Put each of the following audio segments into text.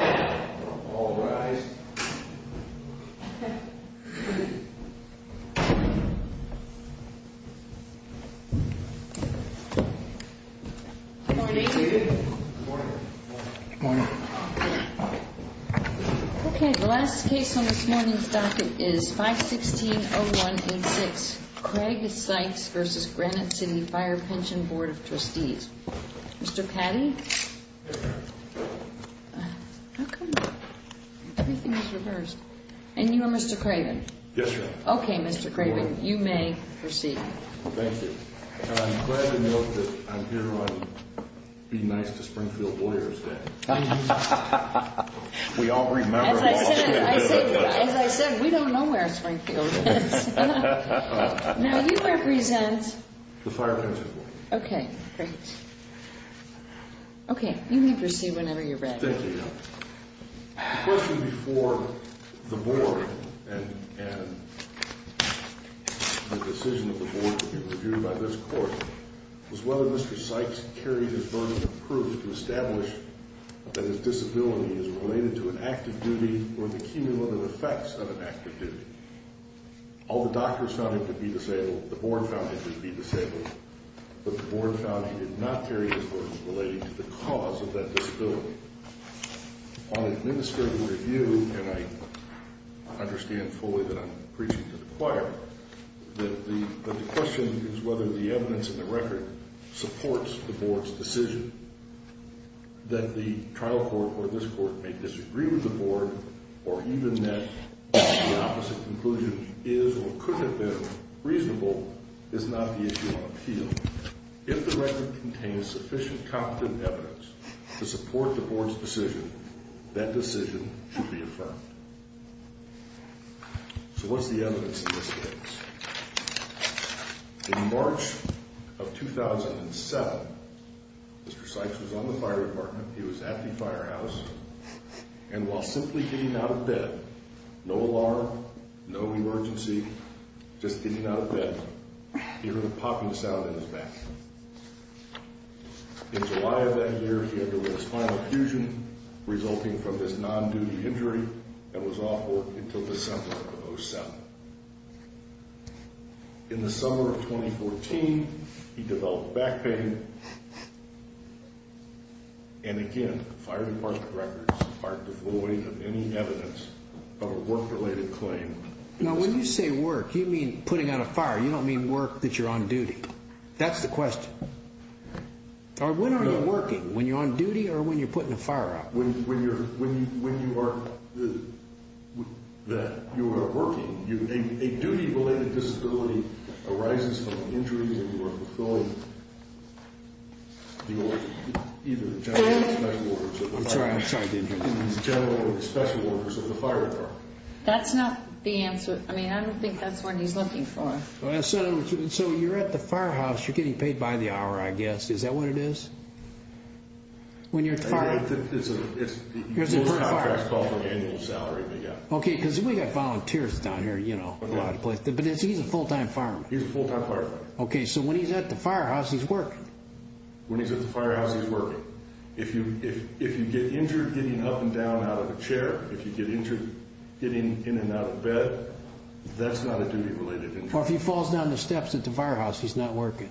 All rise. Good morning. Good morning. Good morning. Okay, the last case on this morning's docket is 516-0186, Craig Sykes v. Granite City Fire Pension Board of Trustees. Mr. Patty? Everything is reversed. And you are Mr. Craven? Yes, ma'am. Okay, Mr. Craven, you may proceed. Thank you. And I'm glad to note that I'm here on Be Nice to Springfield Warriors Day. We all remember. As I said, we don't know where Springfield is. Now, you represent? The Fire Pension Board. Okay, great. Okay, you may proceed whenever you're ready. Thank you. The question before the board and the decision of the board to be reviewed by this court was whether Mr. Sykes carried his burden of proof to establish that his disability is related to an active duty or the cumulative effects of an active duty. All the doctors found him to be disabled. The board found him to be disabled. But the board found he did not carry his burden relating to the cause of that disability. On administrative review, and I understand fully that I'm preaching to the choir, that the question is whether the evidence in the record supports the board's decision that the trial court or this court may disagree with the board or even that the opposite conclusion is or could have been reasonable is not the issue on appeal. If the record contains sufficient competent evidence to support the board's decision, that decision should be affirmed. So what's the evidence in this case? In March of 2007, Mr. Sykes was on the fire department. He was at the firehouse. And while simply getting out of bed, no alarm, no emergency, just getting out of bed, he heard a popping sound in his back. In July of that year, he had a spinal fusion resulting from this non-duty injury and was off work until December of 2007. In the summer of 2014, he developed back pain. And again, fire department records are devoid of any evidence of a work-related claim. Now, when you say work, you mean putting out a fire. You don't mean work that you're on duty. That's the question. Or when are you working? When you're on duty or when you're putting a fire out? When you are working, a duty-related disability arises from injuries and you are fulfilling either the general or the special orders of the fire department. That's not the answer. I mean, I don't think that's what he's looking for. So you're at the firehouse. You're getting paid by the hour, I guess. Is that what it is? When you're at the firehouse? It's a contract called an annual salary. Okay, because we've got volunteers down here, you know, a lot of places. But he's a full-time fireman. He's a full-time fireman. Okay, so when he's at the firehouse, he's working. When he's at the firehouse, he's working. If you get injured getting up and down out of a chair, if you get injured getting in and out of bed, that's not a duty-related injury. Or if he falls down the steps at the firehouse, he's not working.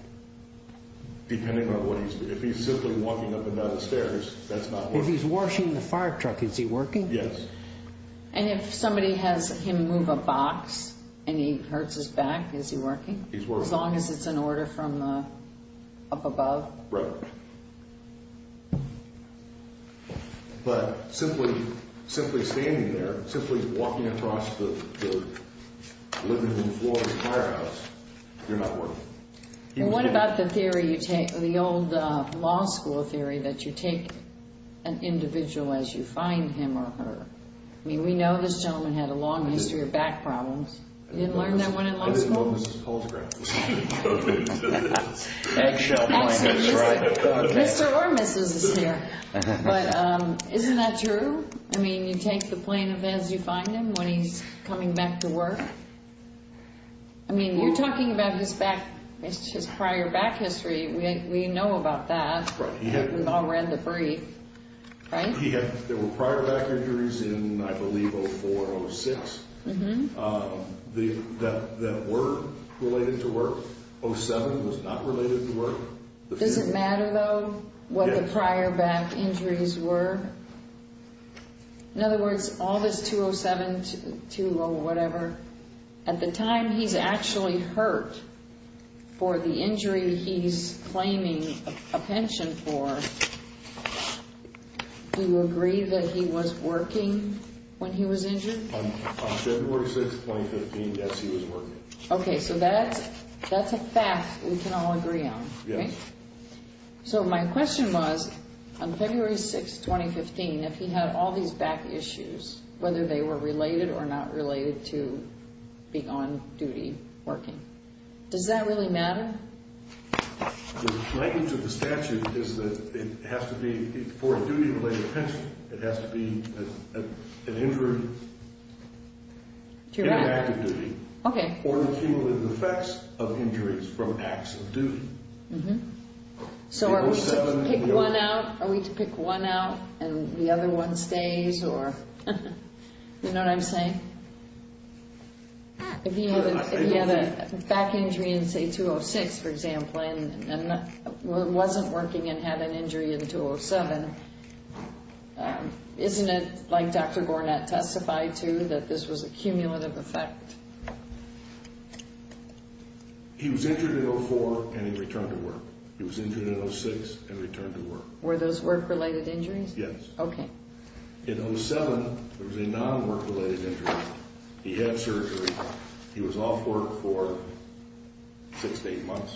Depending on what he's doing. If he's simply walking up and down the stairs, that's not working. If he's washing the fire truck, is he working? Yes. And if somebody has him move a box and he hurts his back, is he working? He's working. As long as it's an order from up above? Right. But simply standing there, simply walking across the living room floor of the firehouse, you're not working. And what about the old law school theory that you take an individual as you find him or her? I mean, we know this gentleman had a long history of back problems. You didn't learn that one in law school? I didn't know Mrs. Paltrow. Mr. or Mrs. is here. But isn't that true? I mean, you take the plaintiff as you find him when he's coming back to work? I mean, you're talking about his back, his prior back history. We know about that. Right. We've all read the brief. Right? There were prior back injuries in, I believe, 04, 06 that were related to work. 07 was not related to work. Does it matter, though, what the prior back injuries were? In other words, all this 207, 202 or whatever, at the time he's actually hurt for the injury he's claiming a pension for, do you agree that he was working when he was injured? On February 6, 2015, yes, he was working. Okay. So that's a fact we can all agree on. Yes. So my question was, on February 6, 2015, if he had all these back issues, whether they were related or not related to being on duty working, does that really matter? The language of the statute is that it has to be for a duty-related pension. It has to be an injury in an act of duty or the cumulative effects of injuries from acts of duty. So are we to pick one out, and the other one stays? You know what I'm saying? If he had a back injury in, say, 206, for example, and wasn't working and had an injury in 207, isn't it like Dr. Gornat testified to, that this was a cumulative effect? He was injured in 04 and he returned to work. He was injured in 06 and returned to work. Were those work-related injuries? Yes. Okay. In 07, it was a non-work-related injury. He had surgery. He was off work for six to eight months,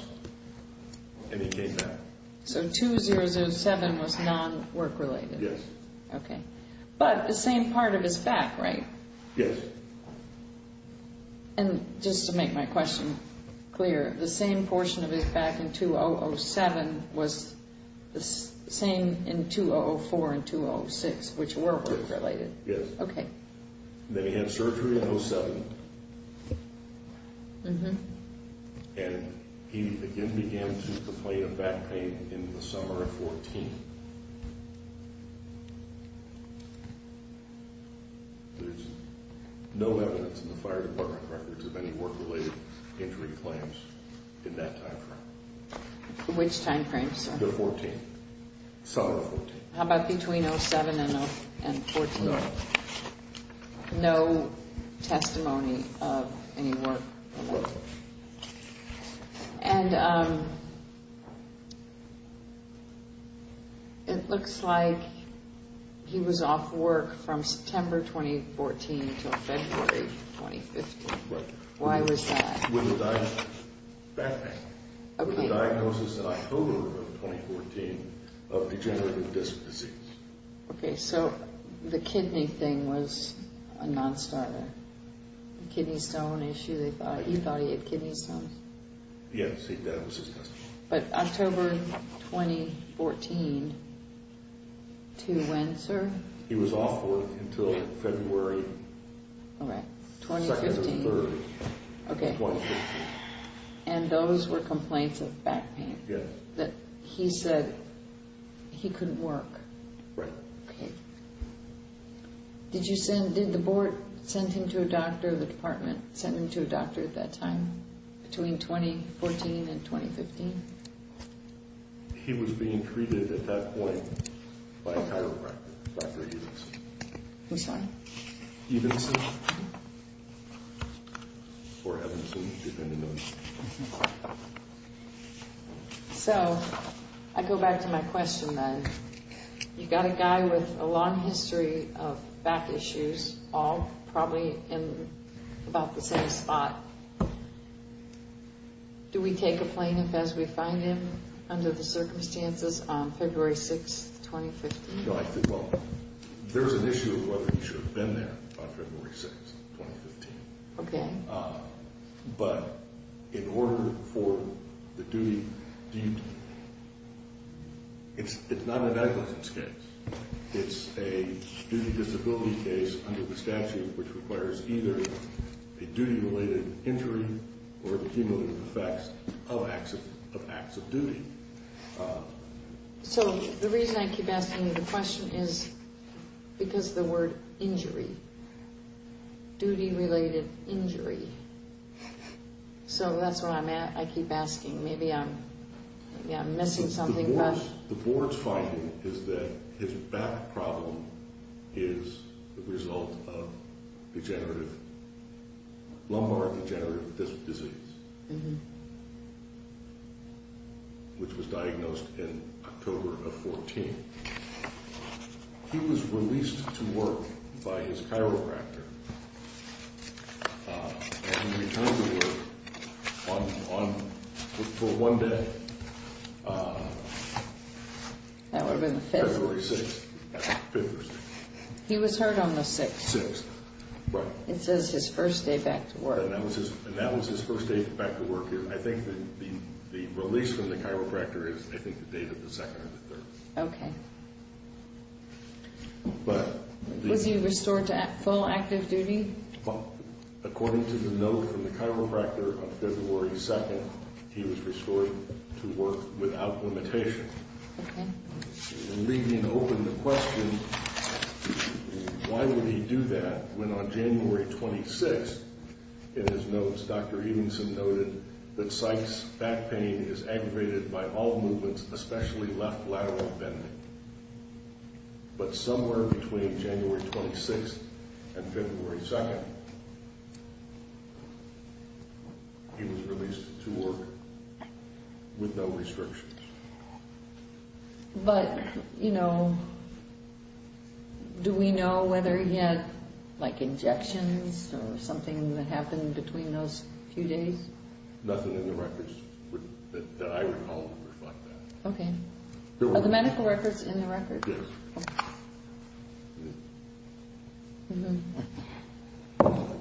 and he came back. So 2007 was non-work-related? Yes. Okay. But the same part of his back, right? Yes. And just to make my question clear, the same portion of his back in 2007 was the same in 2004 and 2006, which were work-related? Yes. Okay. Then he had surgery in 07, and he again began to complain of back pain in the summer of 14. There's no evidence in the fire department records of any work-related injury claims in that time frame. Which time frame, sir? The summer of 14. How about between 07 and 14? No. No testimony of any work? No. And it looks like he was off work from September 2014 until February 2015. Right. Why was that? With a diagnosis. Back pain. Okay. With a diagnosis in October of 2014 of degenerative disc disease. Okay. So the kidney thing was a non-starter. Kidney stone issue. You thought he had kidney stones? Yes. That was his testimony. But October 2014 to when, sir? He was off work until February 2nd or 3rd of 2015. Okay. And those were complaints of back pain? Yes. That he said he couldn't work? Right. Okay. Did the board send him to a doctor, the department sent him to a doctor at that time, between 2014 and 2015? He was being treated at that point by a chiropractor, Dr. Evenson. Which one? Evenson. Or Evanson, depending on. So I go back to my question then. You've got a guy with a long history of back issues, all probably in about the same spot. Do we take a plaintiff as we find him under the circumstances on February 6th, 2015? Well, there's an issue of whether he should have been there on February 6th, 2015. Okay. But in order for the duty, it's not a negligence case. It's a duty disability case under the statute, which requires either a duty-related injury or the cumulative effects of acts of duty. So the reason I keep asking the question is because of the word injury. Duty-related injury. So that's where I'm at. I keep asking. Maybe I'm missing something. The board's finding is that his back problem is the result of lumbar degenerative disease, which was diagnosed in October of 2014. He was released to work by his chiropractor and returned to work for one day. That would have been the 5th? February 6th. He was hurt on the 6th. 6th, right. It says his first day back to work. And that was his first day back to work. I think the release from the chiropractor is, I think, the date of the 2nd or the 3rd. Okay. Was he restored to full active duty? According to the note from the chiropractor on February 2nd, he was restored to work without limitation. Okay. Leaving open the question, why would he do that when on January 26th, in his notes, Dr. Edenson noted that Sykes' back pain is aggravated by all movements, especially left lateral bending. But somewhere between January 26th and February 2nd, he was released to work with no restrictions. But, you know, do we know whether he had, like, injections or something that happened between those few days? Nothing in the records that I recall would reflect that. Okay. Are the medical records in the records? Yes.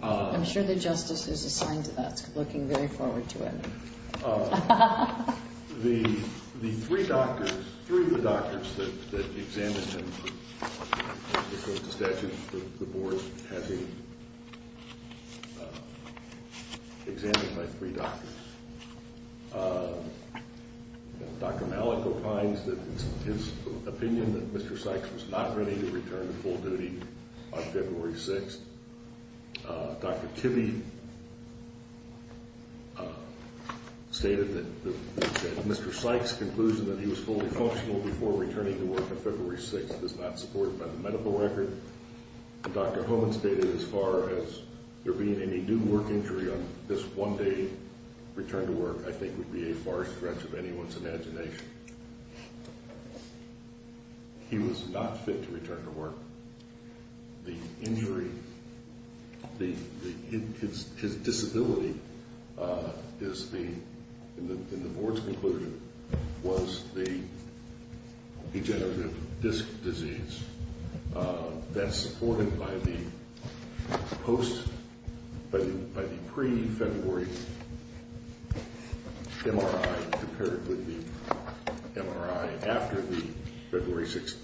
I'm sure the justice is assigned to that. Looking very forward to it. The three doctors, three of the doctors that examined him before the statute, the board had him examined by three doctors. Dr. Malico finds that it's his opinion that Mr. Sykes was not ready to return to full duty on February 6th. Dr. Tibby stated that Mr. Sykes' conclusion that he was fully functional before returning to work on February 6th is not supported by the medical record. Dr. Homan stated as far as there being any due work injury on this one day return to work, I think would be a far stretch of anyone's imagination. He was not fit to return to work. The injury, his disability is the, in the board's conclusion, was the degenerative disc disease. That's supported by the pre-February MRI compared with the MRI after the February 6th.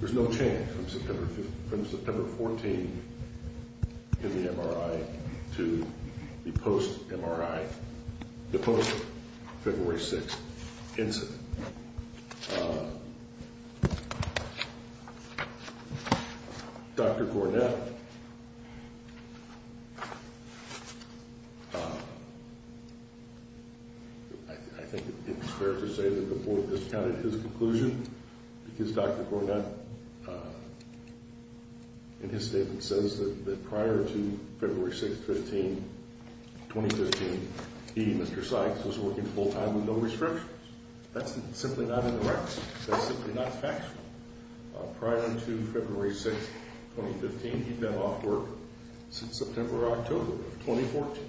There's no change from September 14th in the MRI to the post MRI, the post February 6th incident. Dr. Cornett, I think it's fair to say that the board discounted his conclusion because Dr. Cornett in his statement says that prior to February 6th, 2015, he, Mr. Sykes, was working full time with no restrictions. That's simply not in the records. That's simply not factual. Prior to February 6th, 2015, he'd been off work since September or October of 2014.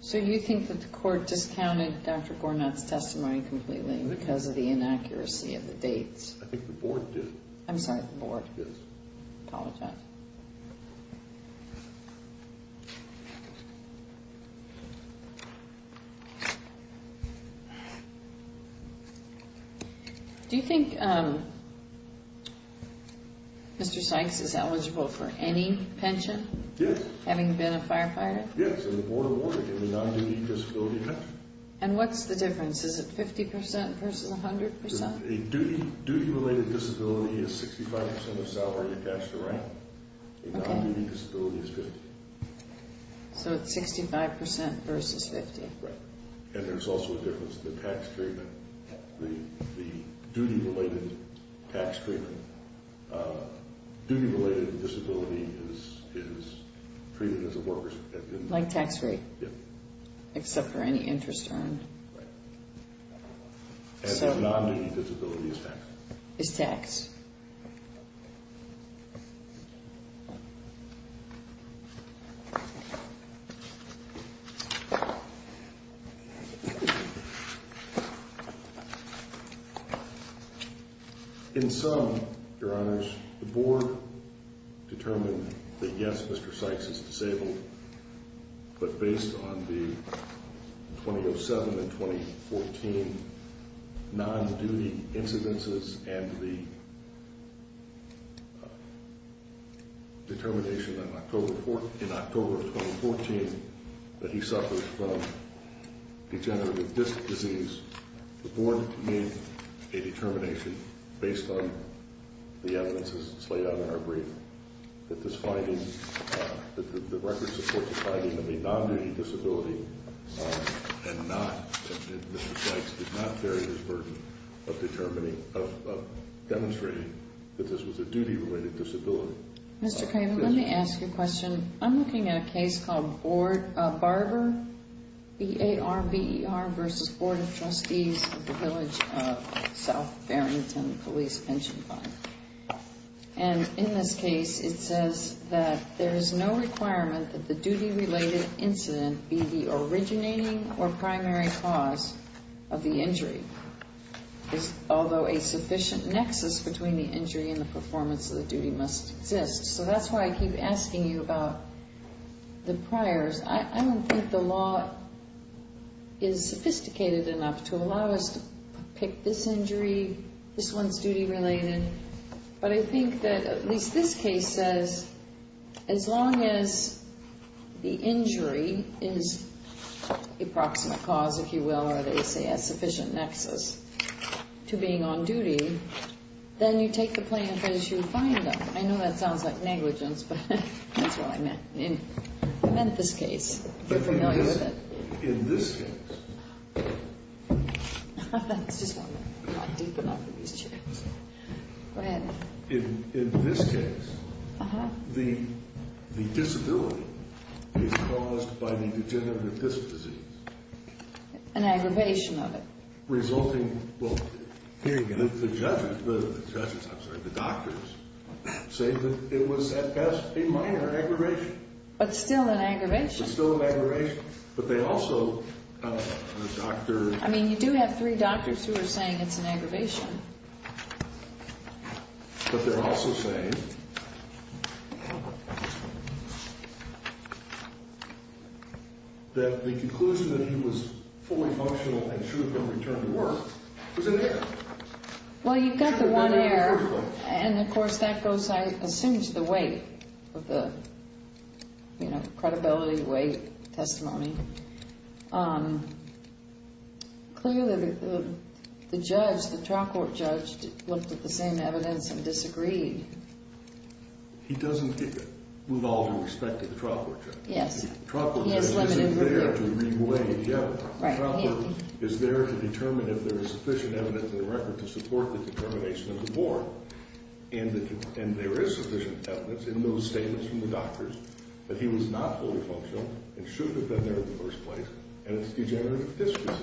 So you think that the court discounted Dr. Cornett's testimony completely because of the inaccuracy of the dates? I think the board did. I'm sorry, the board. Yes. Apologize. Okay. Do you think Mr. Sykes is eligible for any pension? Yes. Having been a firefighter? Yes, and the board awarded him a non-duty disability pension. And what's the difference? Is it 50% versus 100%? A duty-related disability is 65% of salary attached to rank. A non-duty disability is 50%. So it's 65% versus 50%. Right. And there's also a difference in the tax treatment, the duty-related tax treatment. Duty-related disability is treated as a worker's... Like tax rate. Yes. Except for any interest earned. Right. And the non-duty disability is taxed. Is taxed. In sum, your honors, the board determined that yes, Mr. Sykes is disabled, but based on the 2007 and 2014 non-duty incidences and the... determination in October of 2014 that he suffered from degenerative disc disease, the board made a determination based on the evidence as it's laid out in our brief, Mr. Craven, let me ask you a question. I'm looking at a case called Barber, B-A-R-B-E-R, versus Board of Trustees of the Village of South Farrington Police Pension Fund. And in this case it says that there is no requirement that the duty-related incident be the originating or primary cause of the injury, although a sufficient nexus between the injury and the performance of the duty must exist. So that's why I keep asking you about the priors. I don't think the law is sophisticated enough to allow us to pick this injury, this one's duty-related. But I think that at least this case says as long as the injury is the approximate cause, if you will, or they say a sufficient nexus to being on duty, then you take the plaintiff as you find them. I know that sounds like negligence, but that's what I meant. I meant this case, if you're familiar with it. In this case, the disability is caused by the degenerative disc disease. An aggravation of it. Well, the judges, I'm sorry, the doctors, say that it was at best a minor aggravation. But still an aggravation. But still an aggravation. But they also, the doctors. I mean, you do have three doctors who are saying it's an aggravation. But they're also saying that the conclusion that he was fully functional and should have been returned to work was an error. Well, you've got the one error. And, of course, that goes, I assume, to the weight of the credibility, weight, testimony. Clearly, the judge, the trial court judge, looked at the same evidence and disagreed. He doesn't move all due respect to the trial court judge. Yes. The trial court judge isn't there to re-weigh the error. Right. The trial court is there to determine if there is sufficient evidence in the record to support the determination of the warrant. And there is sufficient evidence in those statements from the doctors that he was not fully functional and should have been there in the first place. And it's degenerative history.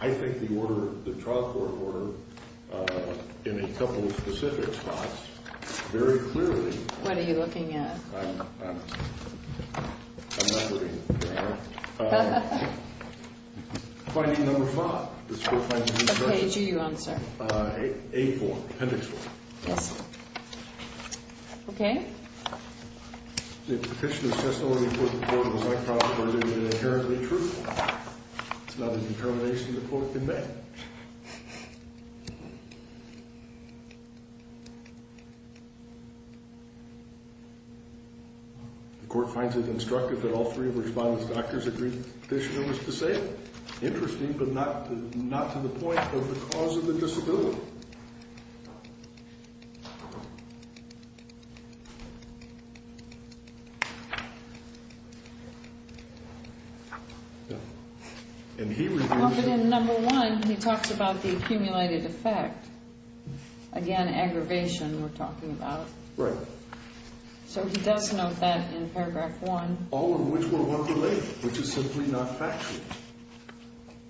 I think the order, the trial court order, in a couple of specific spots, very clearly. What are you looking at? I'm not looking at the error. Finding number five. What page are you on, sir? A form. Appendix one. Yes. Okay. The petitioner's testimony before the court was unproper, but it is inherently truthful. It's not a determination the court can make. The court finds it instructive that all three of the respondents' doctors agree the petitioner was disabled. Interesting, but not to the point of the cause of the disability. And he reviewed it. Well, but in number one, he talks about the accumulated effect. Again, aggravation we're talking about. Right. So he does note that in paragraph one. All of which were work-related, which is simply not factual.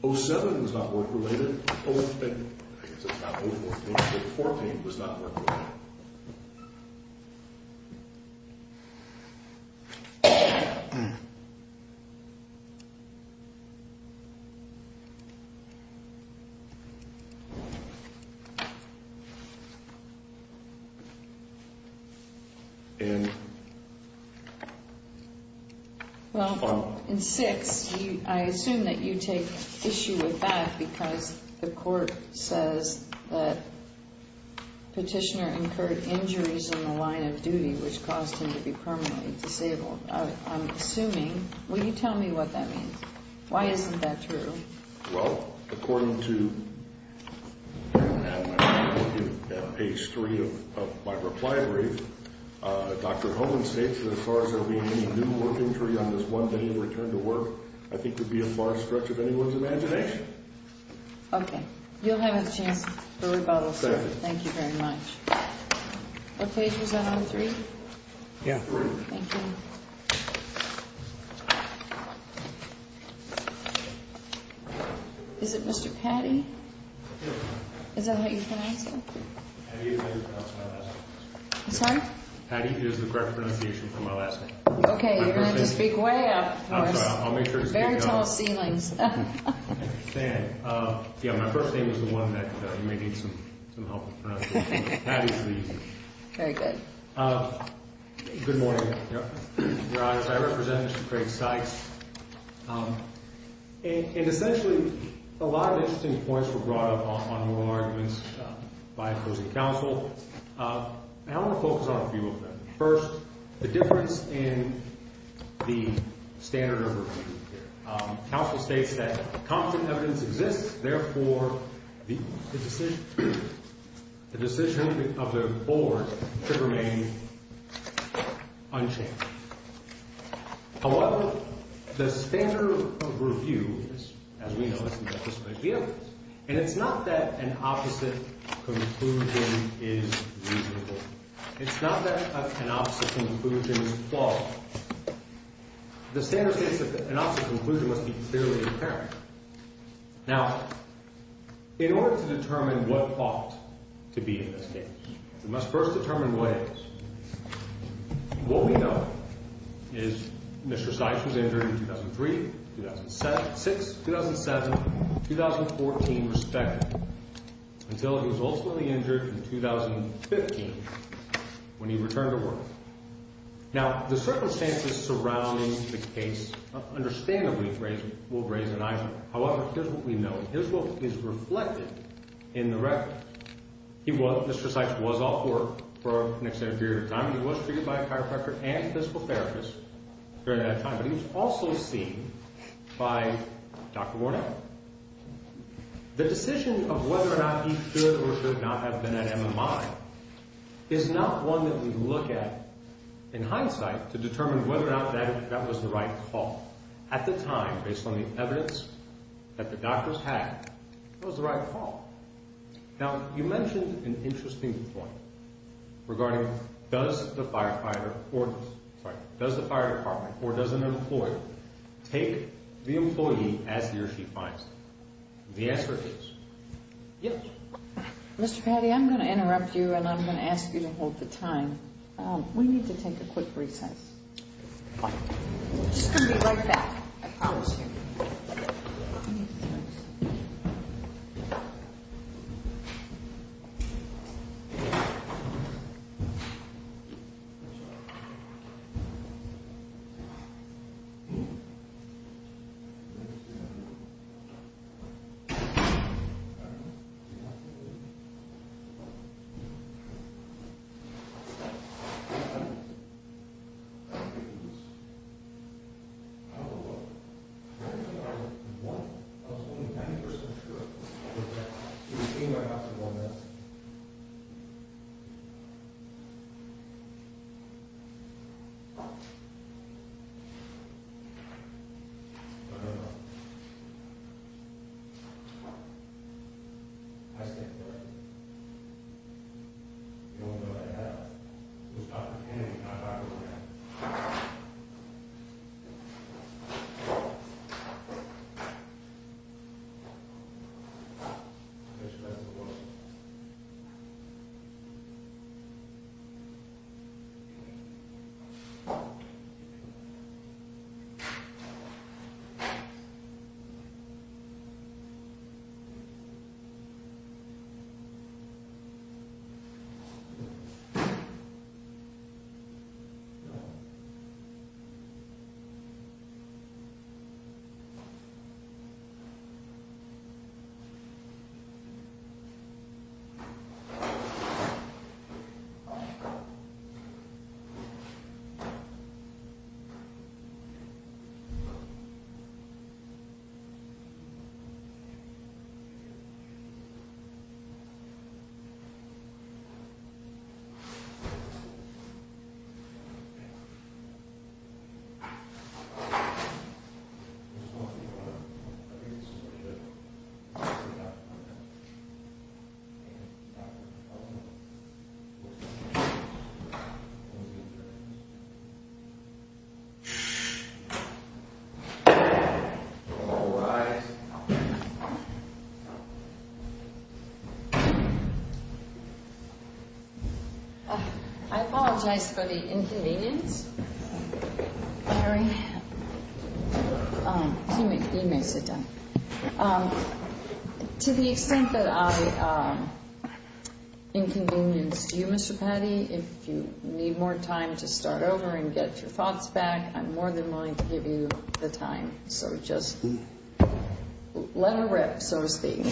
O7 was not work-related. I guess it's not O14. O14 was not work-related. Okay. The petitioner incurred injuries in the line of duty, which caused him to be permanently disabled. I'm assuming. Will you tell me what that means? Why isn't that true? Well, according to page three of my reply brief, Dr. Holman states that as far as there being any new work injury on this one day of return to work, I think would be a far stretch of anyone's imagination. You'll have a chance for rebuttal, sir. Thank you very much. What page was that on, three? Yeah, three. Thank you. Is it Mr. Patty? Is that how you pronounce it? Patty is how you pronounce my last name. Sorry? Patty is the correct pronunciation for my last name. Okay, you're going to have to speak way up. I'll make sure to speak up. Very tall ceilings. I understand. Yeah, my first name is the one that you may need some help with pronouncing. Patty, please. Very good. Good morning, Your Honor. I represent Mr. Craig Sykes. Essentially, a lot of interesting points were brought up on moral arguments by opposing counsel. I want to focus on a few of them. First, the difference in the standard of review here. Counsel states that confident evidence exists. Therefore, the decision of the board should remain unchanged. However, the standard of review, as we know, is that this might be evidence. And it's not that an opposite conclusion is reasonable. It's not that an opposite conclusion is flawed. The standard states that an opposite conclusion must be clearly apparent. Now, in order to determine what ought to be in this case, we must first determine what is. What we know is Mr. Sykes was injured in 2003, 2006, 2007, 2014, respectively, until he was ultimately injured in 2015 when he returned to work. Now, the circumstances surrounding the case understandably will raise an eyebrow. However, here's what we know. Here's what is reflected in the record. Mr. Sykes was off work for an extended period of time. He was treated by a chiropractor and physical therapist during that time. But he was also seen by Dr. Warnell. The decision of whether or not he should or should not have been at MMI is not one that we look at in hindsight to determine whether or not that was the right call. At the time, based on the evidence that the doctors had, it was the right call. Now, you mentioned an interesting point regarding does the fire department or does an employer take the employee as he or she finds them? The answer is yes. Mr. Patti, I'm going to interrupt you, and I'm going to ask you to hold the time. We need to take a quick recess. Just come and be right back. I don't think he was. I don't know. I was only 90% sure. He was seen by Dr. Warnell. I don't know. I stand corrected. I don't know that I have. It was Dr. Kennedy and not Dr. Warnell. I guess that's the world. I don't know. I don't know. All right. I apologize for the inconvenience. You may sit down. To the extent that I inconvenienced you, Mr. Patti, if you need more time to start over and get your thoughts back, I'm more than willing to give you the time. So just let her rip, so to speak.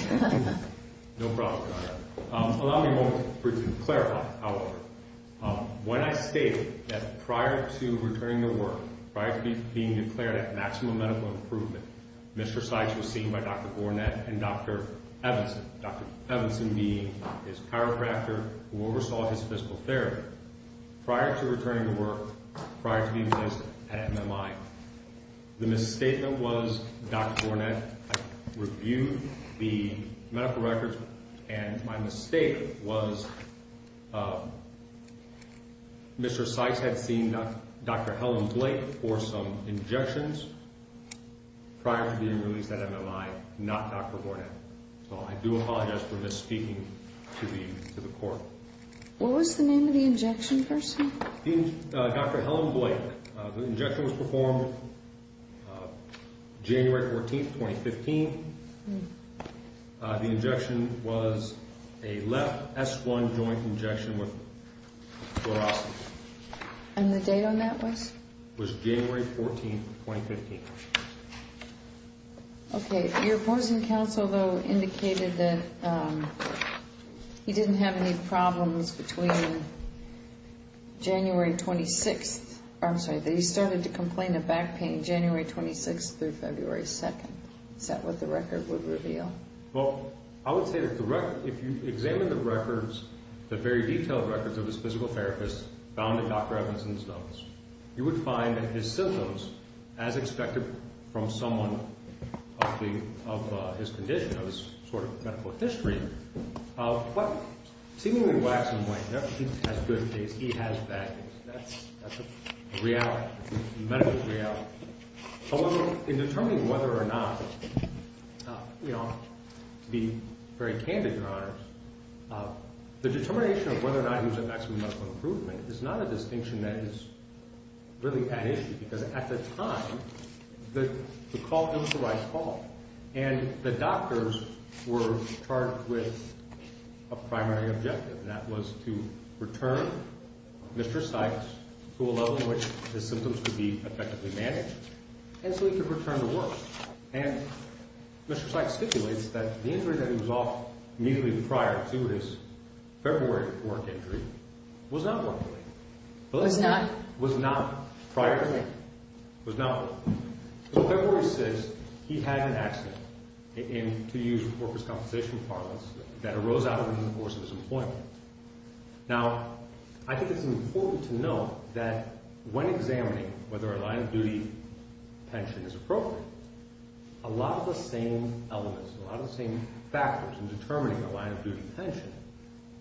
No problem, Your Honor. Allow me a moment for you to clarify, however. When I stated that prior to returning to work, prior to being declared at maximum medical improvement, Mr. Sykes was seen by Dr. Gornet and Dr. Evanson, Dr. Evanson being his chiropractor who oversaw his physical therapy. Prior to returning to work, prior to being placed at MMI, the misstatement was Dr. Gornet reviewed the medical records, and my mistake was Mr. Sykes had seen Dr. Helen Blake for some injections prior to being released at MMI, not Dr. Gornet. So I do apologize for misspeaking to the court. What was the name of the injection person? Dr. Helen Blake. The injection was performed January 14, 2015. The injection was a left S1 joint injection with fluoroscopy. And the date on that was? It was January 14, 2015. Okay. Your opposing counsel, though, indicated that he didn't have any problems between January 26th, I'm sorry, that he started to complain of back pain January 26th through February 2nd. Is that what the record would reveal? Well, I would say that if you examine the records, the very detailed records of his physical therapist, found in Dr. Evanston's notes, you would find that his symptoms, as expected from someone of his condition, of his sort of medical history, seemingly wax and wane. He has good days, he has bad days. That's a reality. That's a medical reality. However, in determining whether or not, to be very candid, Your Honors, the determination of whether or not he was at maximum medical improvement is not a distinction that is really at issue, because at the time, the call, it was the right call. And the doctors were charged with a primary objective, and that was to return Mr. Sykes to a level in which his symptoms would be effectively managed, and so he could return to work. And Mr. Sykes stipulates that the injury that he was off immediately prior to his February work injury was not work related. Well, it's not. It was not prior to that. It was not work related. So February 6th, he had an accident, and to use workers' compensation parlance, that arose out of reinforcing his employment. Now, I think it's important to note that when examining whether a line-of-duty pension is appropriate, a lot of the same elements, a lot of the same factors in determining a line-of-duty pension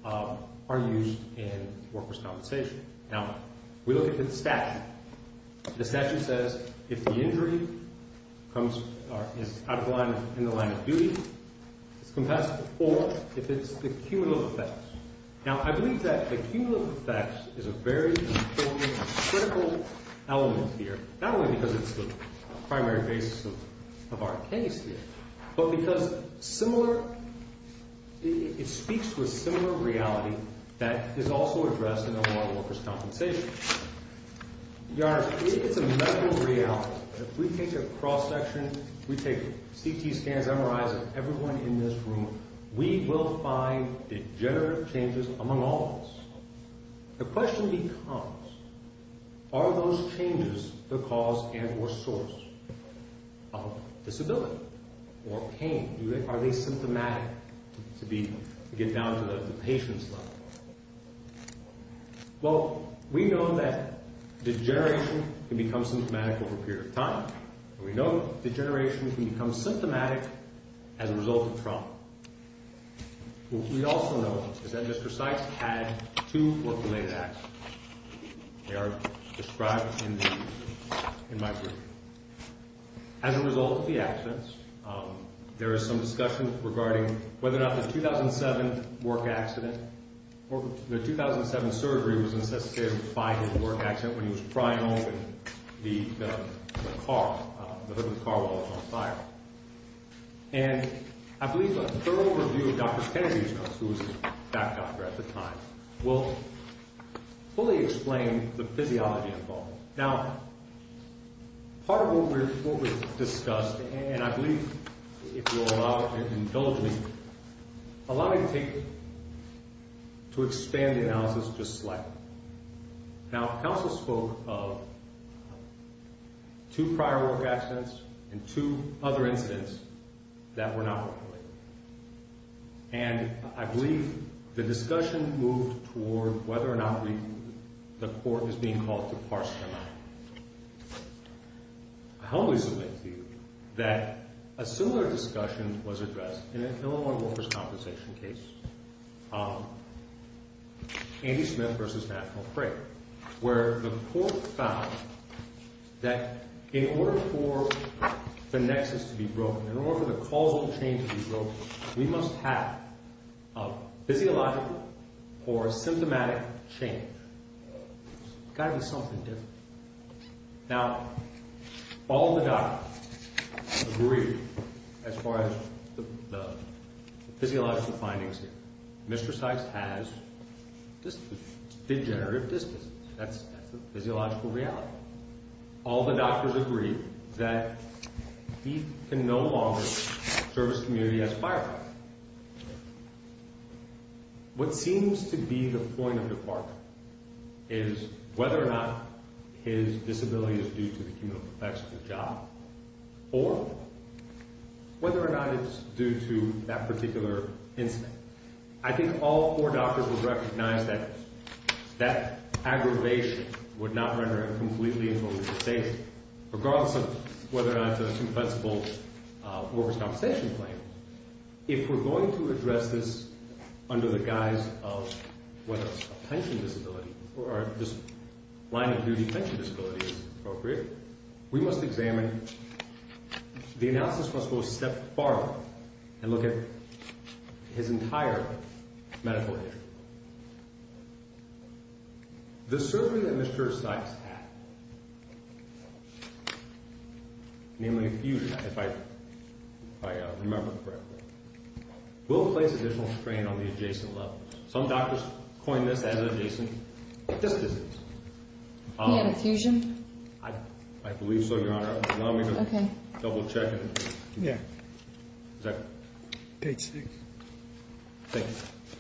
are used in workers' compensation. Now, we look at the statute. The statute says if the injury is in the line of duty, it's compensable, or if it's the cumulative effects. Now, I believe that the cumulative effects is a very important and critical element here, not only because it's the primary basis of our case here, but because it speaks to a similar reality that is also addressed in a lot of workers' compensation. Your Honor, if it's a medical reality, if we take a cross-section, if we take CT scans, MRIs of everyone in this room, we will find degenerative changes among all of us. The question becomes, are those changes the cause and or source of disability or pain? Are they symptomatic, to get down to the patient's level? Well, we know that degeneration can become symptomatic over a period of time, and we know that degeneration can become symptomatic as a result of trauma. What we also know is that Mr. Sykes had two work-related accidents. They are described in my brief. As a result of the accidents, there is some discussion regarding whether or not the 2007 work accident, or the 2007 surgery was necessitated by his work accident when he was prying open the car, the hood of the car while it was on fire. And I believe a thorough review of Dr. Kennedy's notes, who was his back doctor at the time, will fully explain the physiology involved. Now, part of what we've discussed, and I believe if you'll allow and indulge me, allow me to expand the analysis just slightly. Now, counsel spoke of two prior work accidents and two other incidents that were not work-related. And I believe the discussion moved toward whether or not the court is being called to parse them out. I humbly submit to you that a similar discussion was addressed in an Illinois workers' compensation case. Andy Smith v. National Crate, where the court found that in order for the nexus to be broken, in order for the causal chain to be broken, we must have a physiological or symptomatic change. It's got to be something different. Now, all the doctors agree, as far as the physiological findings here, Mr. Sykes has degenerative dysplasia. That's the physiological reality. All the doctors agree that he can no longer serve his community as a firefighter. What seems to be the point of the part is whether or not his disability is due to the chemical effects of the job, or whether or not it's due to that particular incident. I think all four doctors would recognize that that aggravation would not render him completely invulnerable to safety, regardless of whether or not it's a convincible workers' compensation claim. If we're going to address this under the guise of whether it's a pension disability, or a line-of-duty pension disability, as appropriate, we must examine, the analysis must go a step farther, and look at his entire medical history. The surgery that Mr. Sykes had, namely effusion, if I remember correctly, will place additional strain on the adjacent levels. Some doctors coin this as an adjacent dis-disease. He had effusion? I believe so, Your Honor. Allow me to double-check it. Yeah. Is that correct? Page 6. Thank you.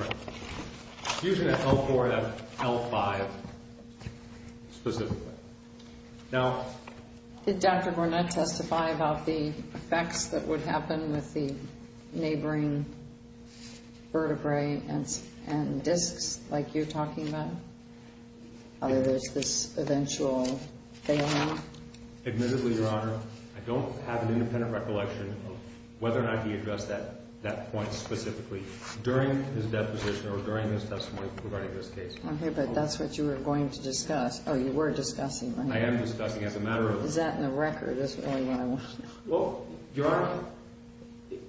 Right. Effusion at L4 and at L5, specifically. Now... Did Dr. Gournett testify about the effects that would happen with the neighboring vertebrae and discs, like you're talking about? Whether there's this eventual failure? Admittedly, Your Honor, I don't have an independent recollection of whether or not he addressed that point specifically during his deposition or during his testimony regarding this case. Okay, but that's what you were going to discuss. Oh, you were discussing. I am discussing, as a matter of... Is that in the record? Well, Your Honor,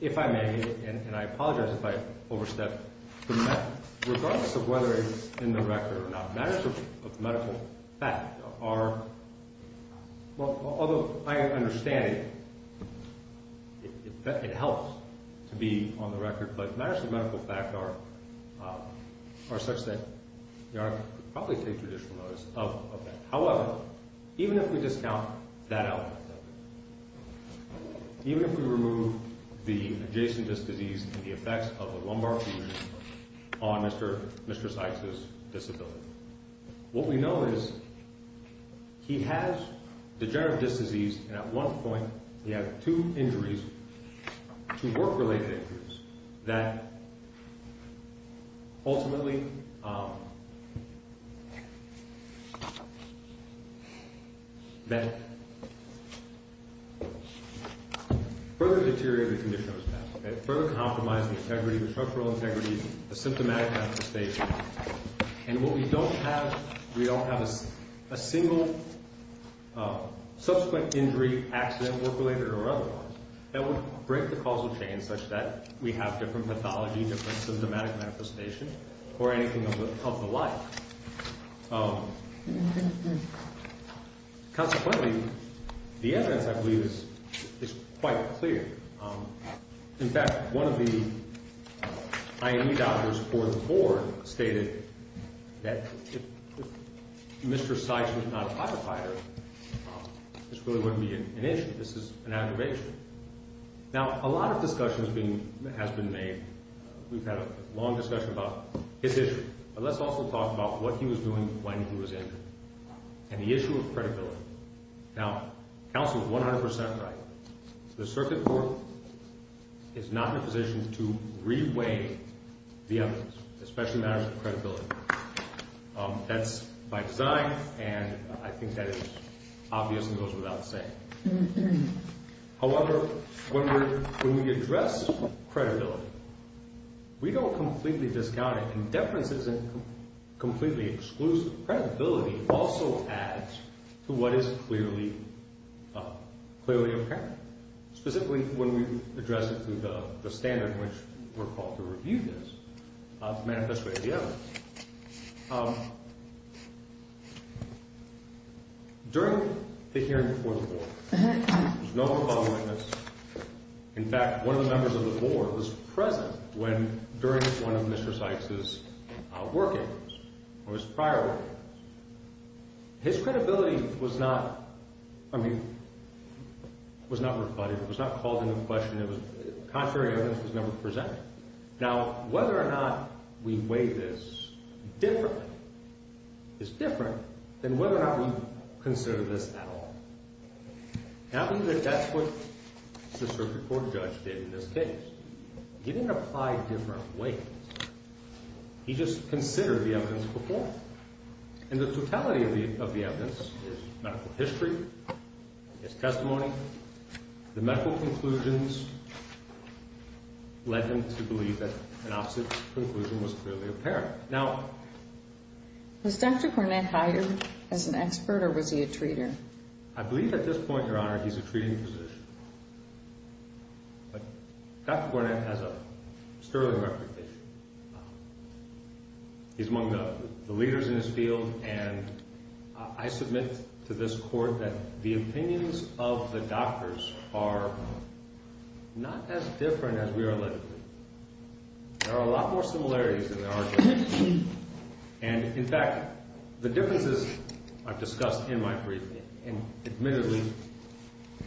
if I may, and I apologize if I overstepped the mark, regardless of whether it's in the record or not, matters of medical fact are... Although I understand it helps to be on the record, but matters of medical fact are such that Your Honor could probably take judicial notice of that. However, even if we discount that element, even if we remove the adjacent disc disease and the effects of the lumbar fusion on Mr. Sykes' disability, what we know is he has degenerative disc disease, and at one point he had two injuries, two work-related injuries, that ultimately further deteriorated the condition of his back. It further compromised the integrity, the structural integrity, the symptomatic manifestation. And what we don't have, we don't have a single subsequent injury, accident, work-related or otherwise, that would break the causal chain such that we have different pathology, different symptomatic manifestation, or anything of the like. Consequently, the evidence, I believe, is quite clear. In fact, one of the IAEA doctors for the board stated that if Mr. Sykes was not a pacifier, this really wouldn't be an issue. This is an aggravation. Now, a lot of discussion has been made. We've had a long discussion about his issue, but let's also talk about what he was doing when he was injured and the issue of credibility. Now, counsel is 100 percent right. The circuit court is not in a position to re-weigh the evidence, especially matters of credibility. That's by design, and I think that is obvious and goes without saying. However, when we address credibility, we don't completely discount it. Indeference isn't completely exclusive. Credibility also adds to what is clearly apparent, specifically when we address it through the standard in which we're called to review this, to manifest the evidence. During the hearing before the board, there was no follow-up witness. In fact, one of the members of the board was present when, during one of Mr. Sykes' workings or his prior workings. His credibility was not, I mean, was not rebutted. It was not called into question. Contrary evidence was never presented. Now, whether or not we weigh this differently is different than whether or not we consider this at all. I believe that that's what the circuit court judge did in this case. He didn't apply different weights. He just considered the evidence before. And the totality of the evidence is medical history, is testimony. The medical conclusions led him to believe that an opposite conclusion was clearly apparent. Now, was Dr. Cornett hired as an expert or was he a treater? I believe at this point, Your Honor, he's a treating physician. But Dr. Cornett has a sterling reputation. He's among the leaders in his field. And I submit to this court that the opinions of the doctors are not as different as we are allegedly. And, in fact, the differences I've discussed in my briefing, and admittedly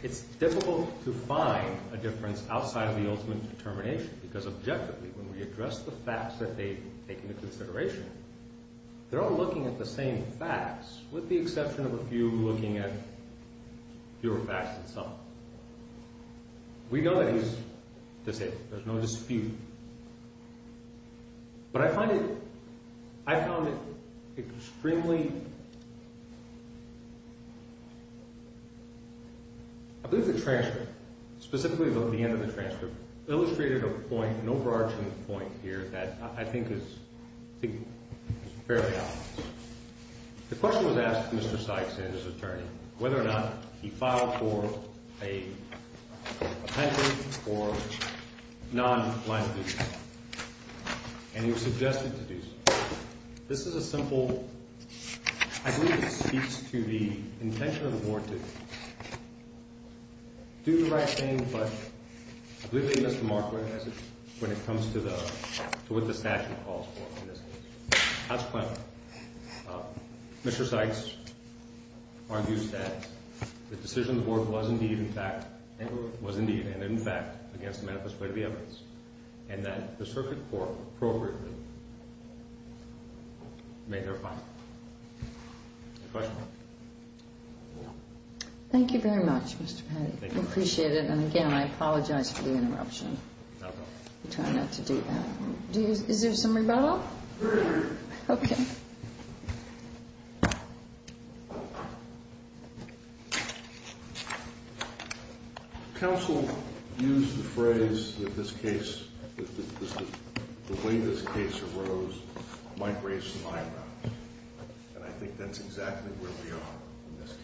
it's difficult to find a difference outside of the ultimate determination because objectively when we address the facts that they've taken into consideration, they're all looking at the same facts with the exception of a few looking at fewer facts than some. We know that he's disabled. There's no dispute. But I find it extremely, I believe the transcript, specifically the end of the transcript, illustrated a point, an overarching point here that I think is fairly obvious. The question was asked to Mr. Sykes and his attorney whether or not he filed for a pension or non-life-imprisonment. And he was suggested to do so. This is a simple, I believe it speaks to the intention of the board to do the right thing, but I believe they missed the mark when it comes to what the statute calls for in this case. That's plenty. Mr. Sykes argues that the decision of the board was indeed and in fact against the manifest way of the evidence and that the circuit court appropriately made their finding. Any questions? No. Thank you very much, Mr. Patti. Thank you. I appreciate it. And, again, I apologize for the interruption. Not at all. I try not to do that. Is there some rebuttal? Okay. Counsel used the phrase that this case, the way this case arose, might raise some eyebrows. And I think that's exactly where we are in this case.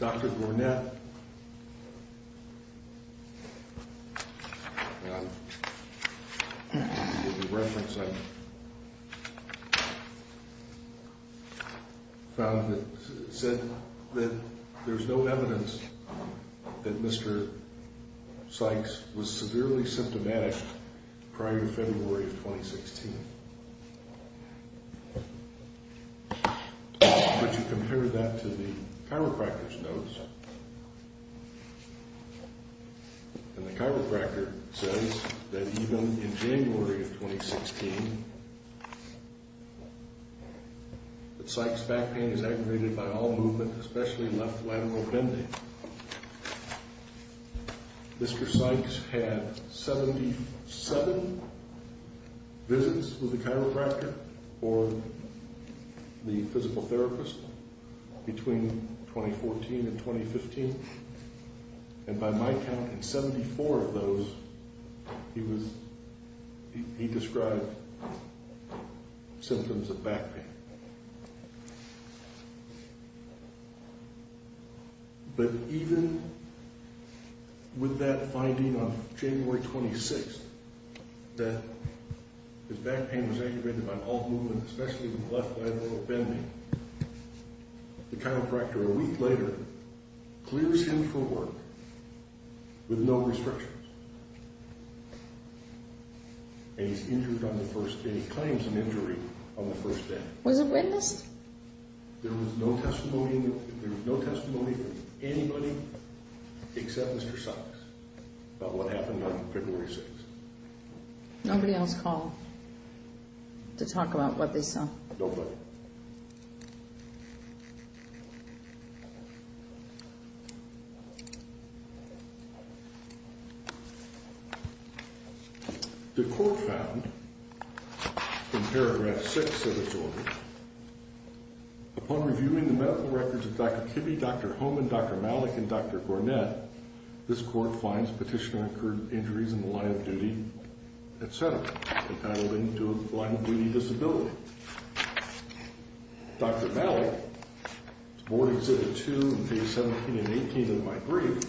Dr. Gournett, in the reference I found, said that there's no evidence that Mr. Sykes was severely symptomatic prior to February of 2016. But you compare that to the chiropractor's notes, and the chiropractor says that even in January of 2016, that Sykes' back pain is aggravated by all movement, especially left lateral bending. Mr. Sykes had 77 visits with the chiropractor or the physical therapist between 2014 and 2015. And by my count, in 74 of those, he described symptoms of back pain. But even with that finding on January 26th, that his back pain was aggravated by all movement, especially left lateral bending, the chiropractor, a week later, clears him for work with no restrictions. And he's injured on the first day. He claims an injury on the first day. Was it witnessed? There was no testimony from anybody except Mr. Sykes about what happened on February 6th. Nobody else called to talk about what they saw? Nobody. The court found, in paragraph 6 of its order, upon reviewing the medical records of Dr. Kibbe, Dr. Homan, Dr. Malik, and Dr. Gornett, this court finds petitioner incurred injuries in the line of duty, etc. Entitled into a line of duty disability. Dr. Malik, Board Exhibit 2, page 17 and 18 of my brief,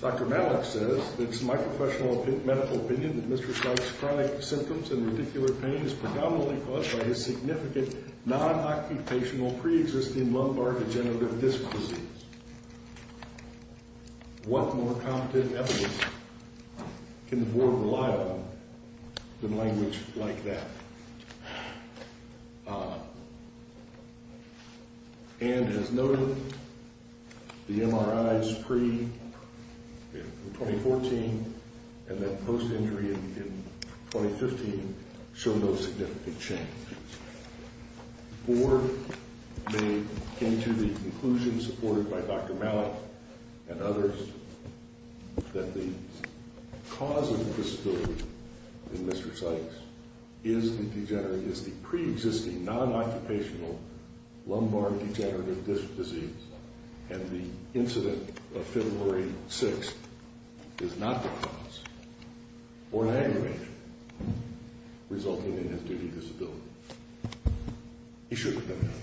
Dr. Malik says, It's my professional medical opinion that Mr. Sykes' chronic symptoms and radicular pain is predominantly caused by his significant non-occupational pre-existing lumbar degenerative disc disease. What more competent evidence can the board rely on than language like that? And as noted, the MRIs pre-2014 and then post-injury in 2015 show no significant changes. The board came to the conclusion, supported by Dr. Malik and others, that the cause of the disability in Mr. Sykes is the pre-existing non-occupational lumbar degenerative disc disease and the incident of February 6th is not the cause or an aggravation resulting in his duty disability. He shouldn't have done that.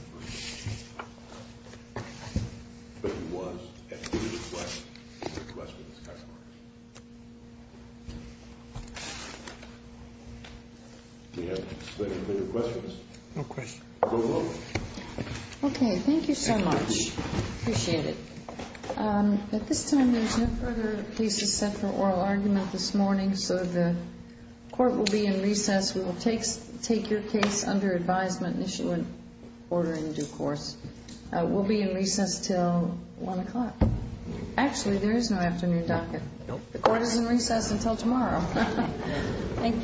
But he was, and he did reflect on the questions afterwards. Do you have any further questions? No questions. You're welcome. Okay, thank you so much. Thank you. Appreciate it. At this time, there's no further cases set for oral argument this morning, so the court will be in recess. We will take your case under advisement and issue an order in due course. We'll be in recess until 1 o'clock. Actually, there is no afternoon docket. Nope. The court is in recess until tomorrow. Thank you.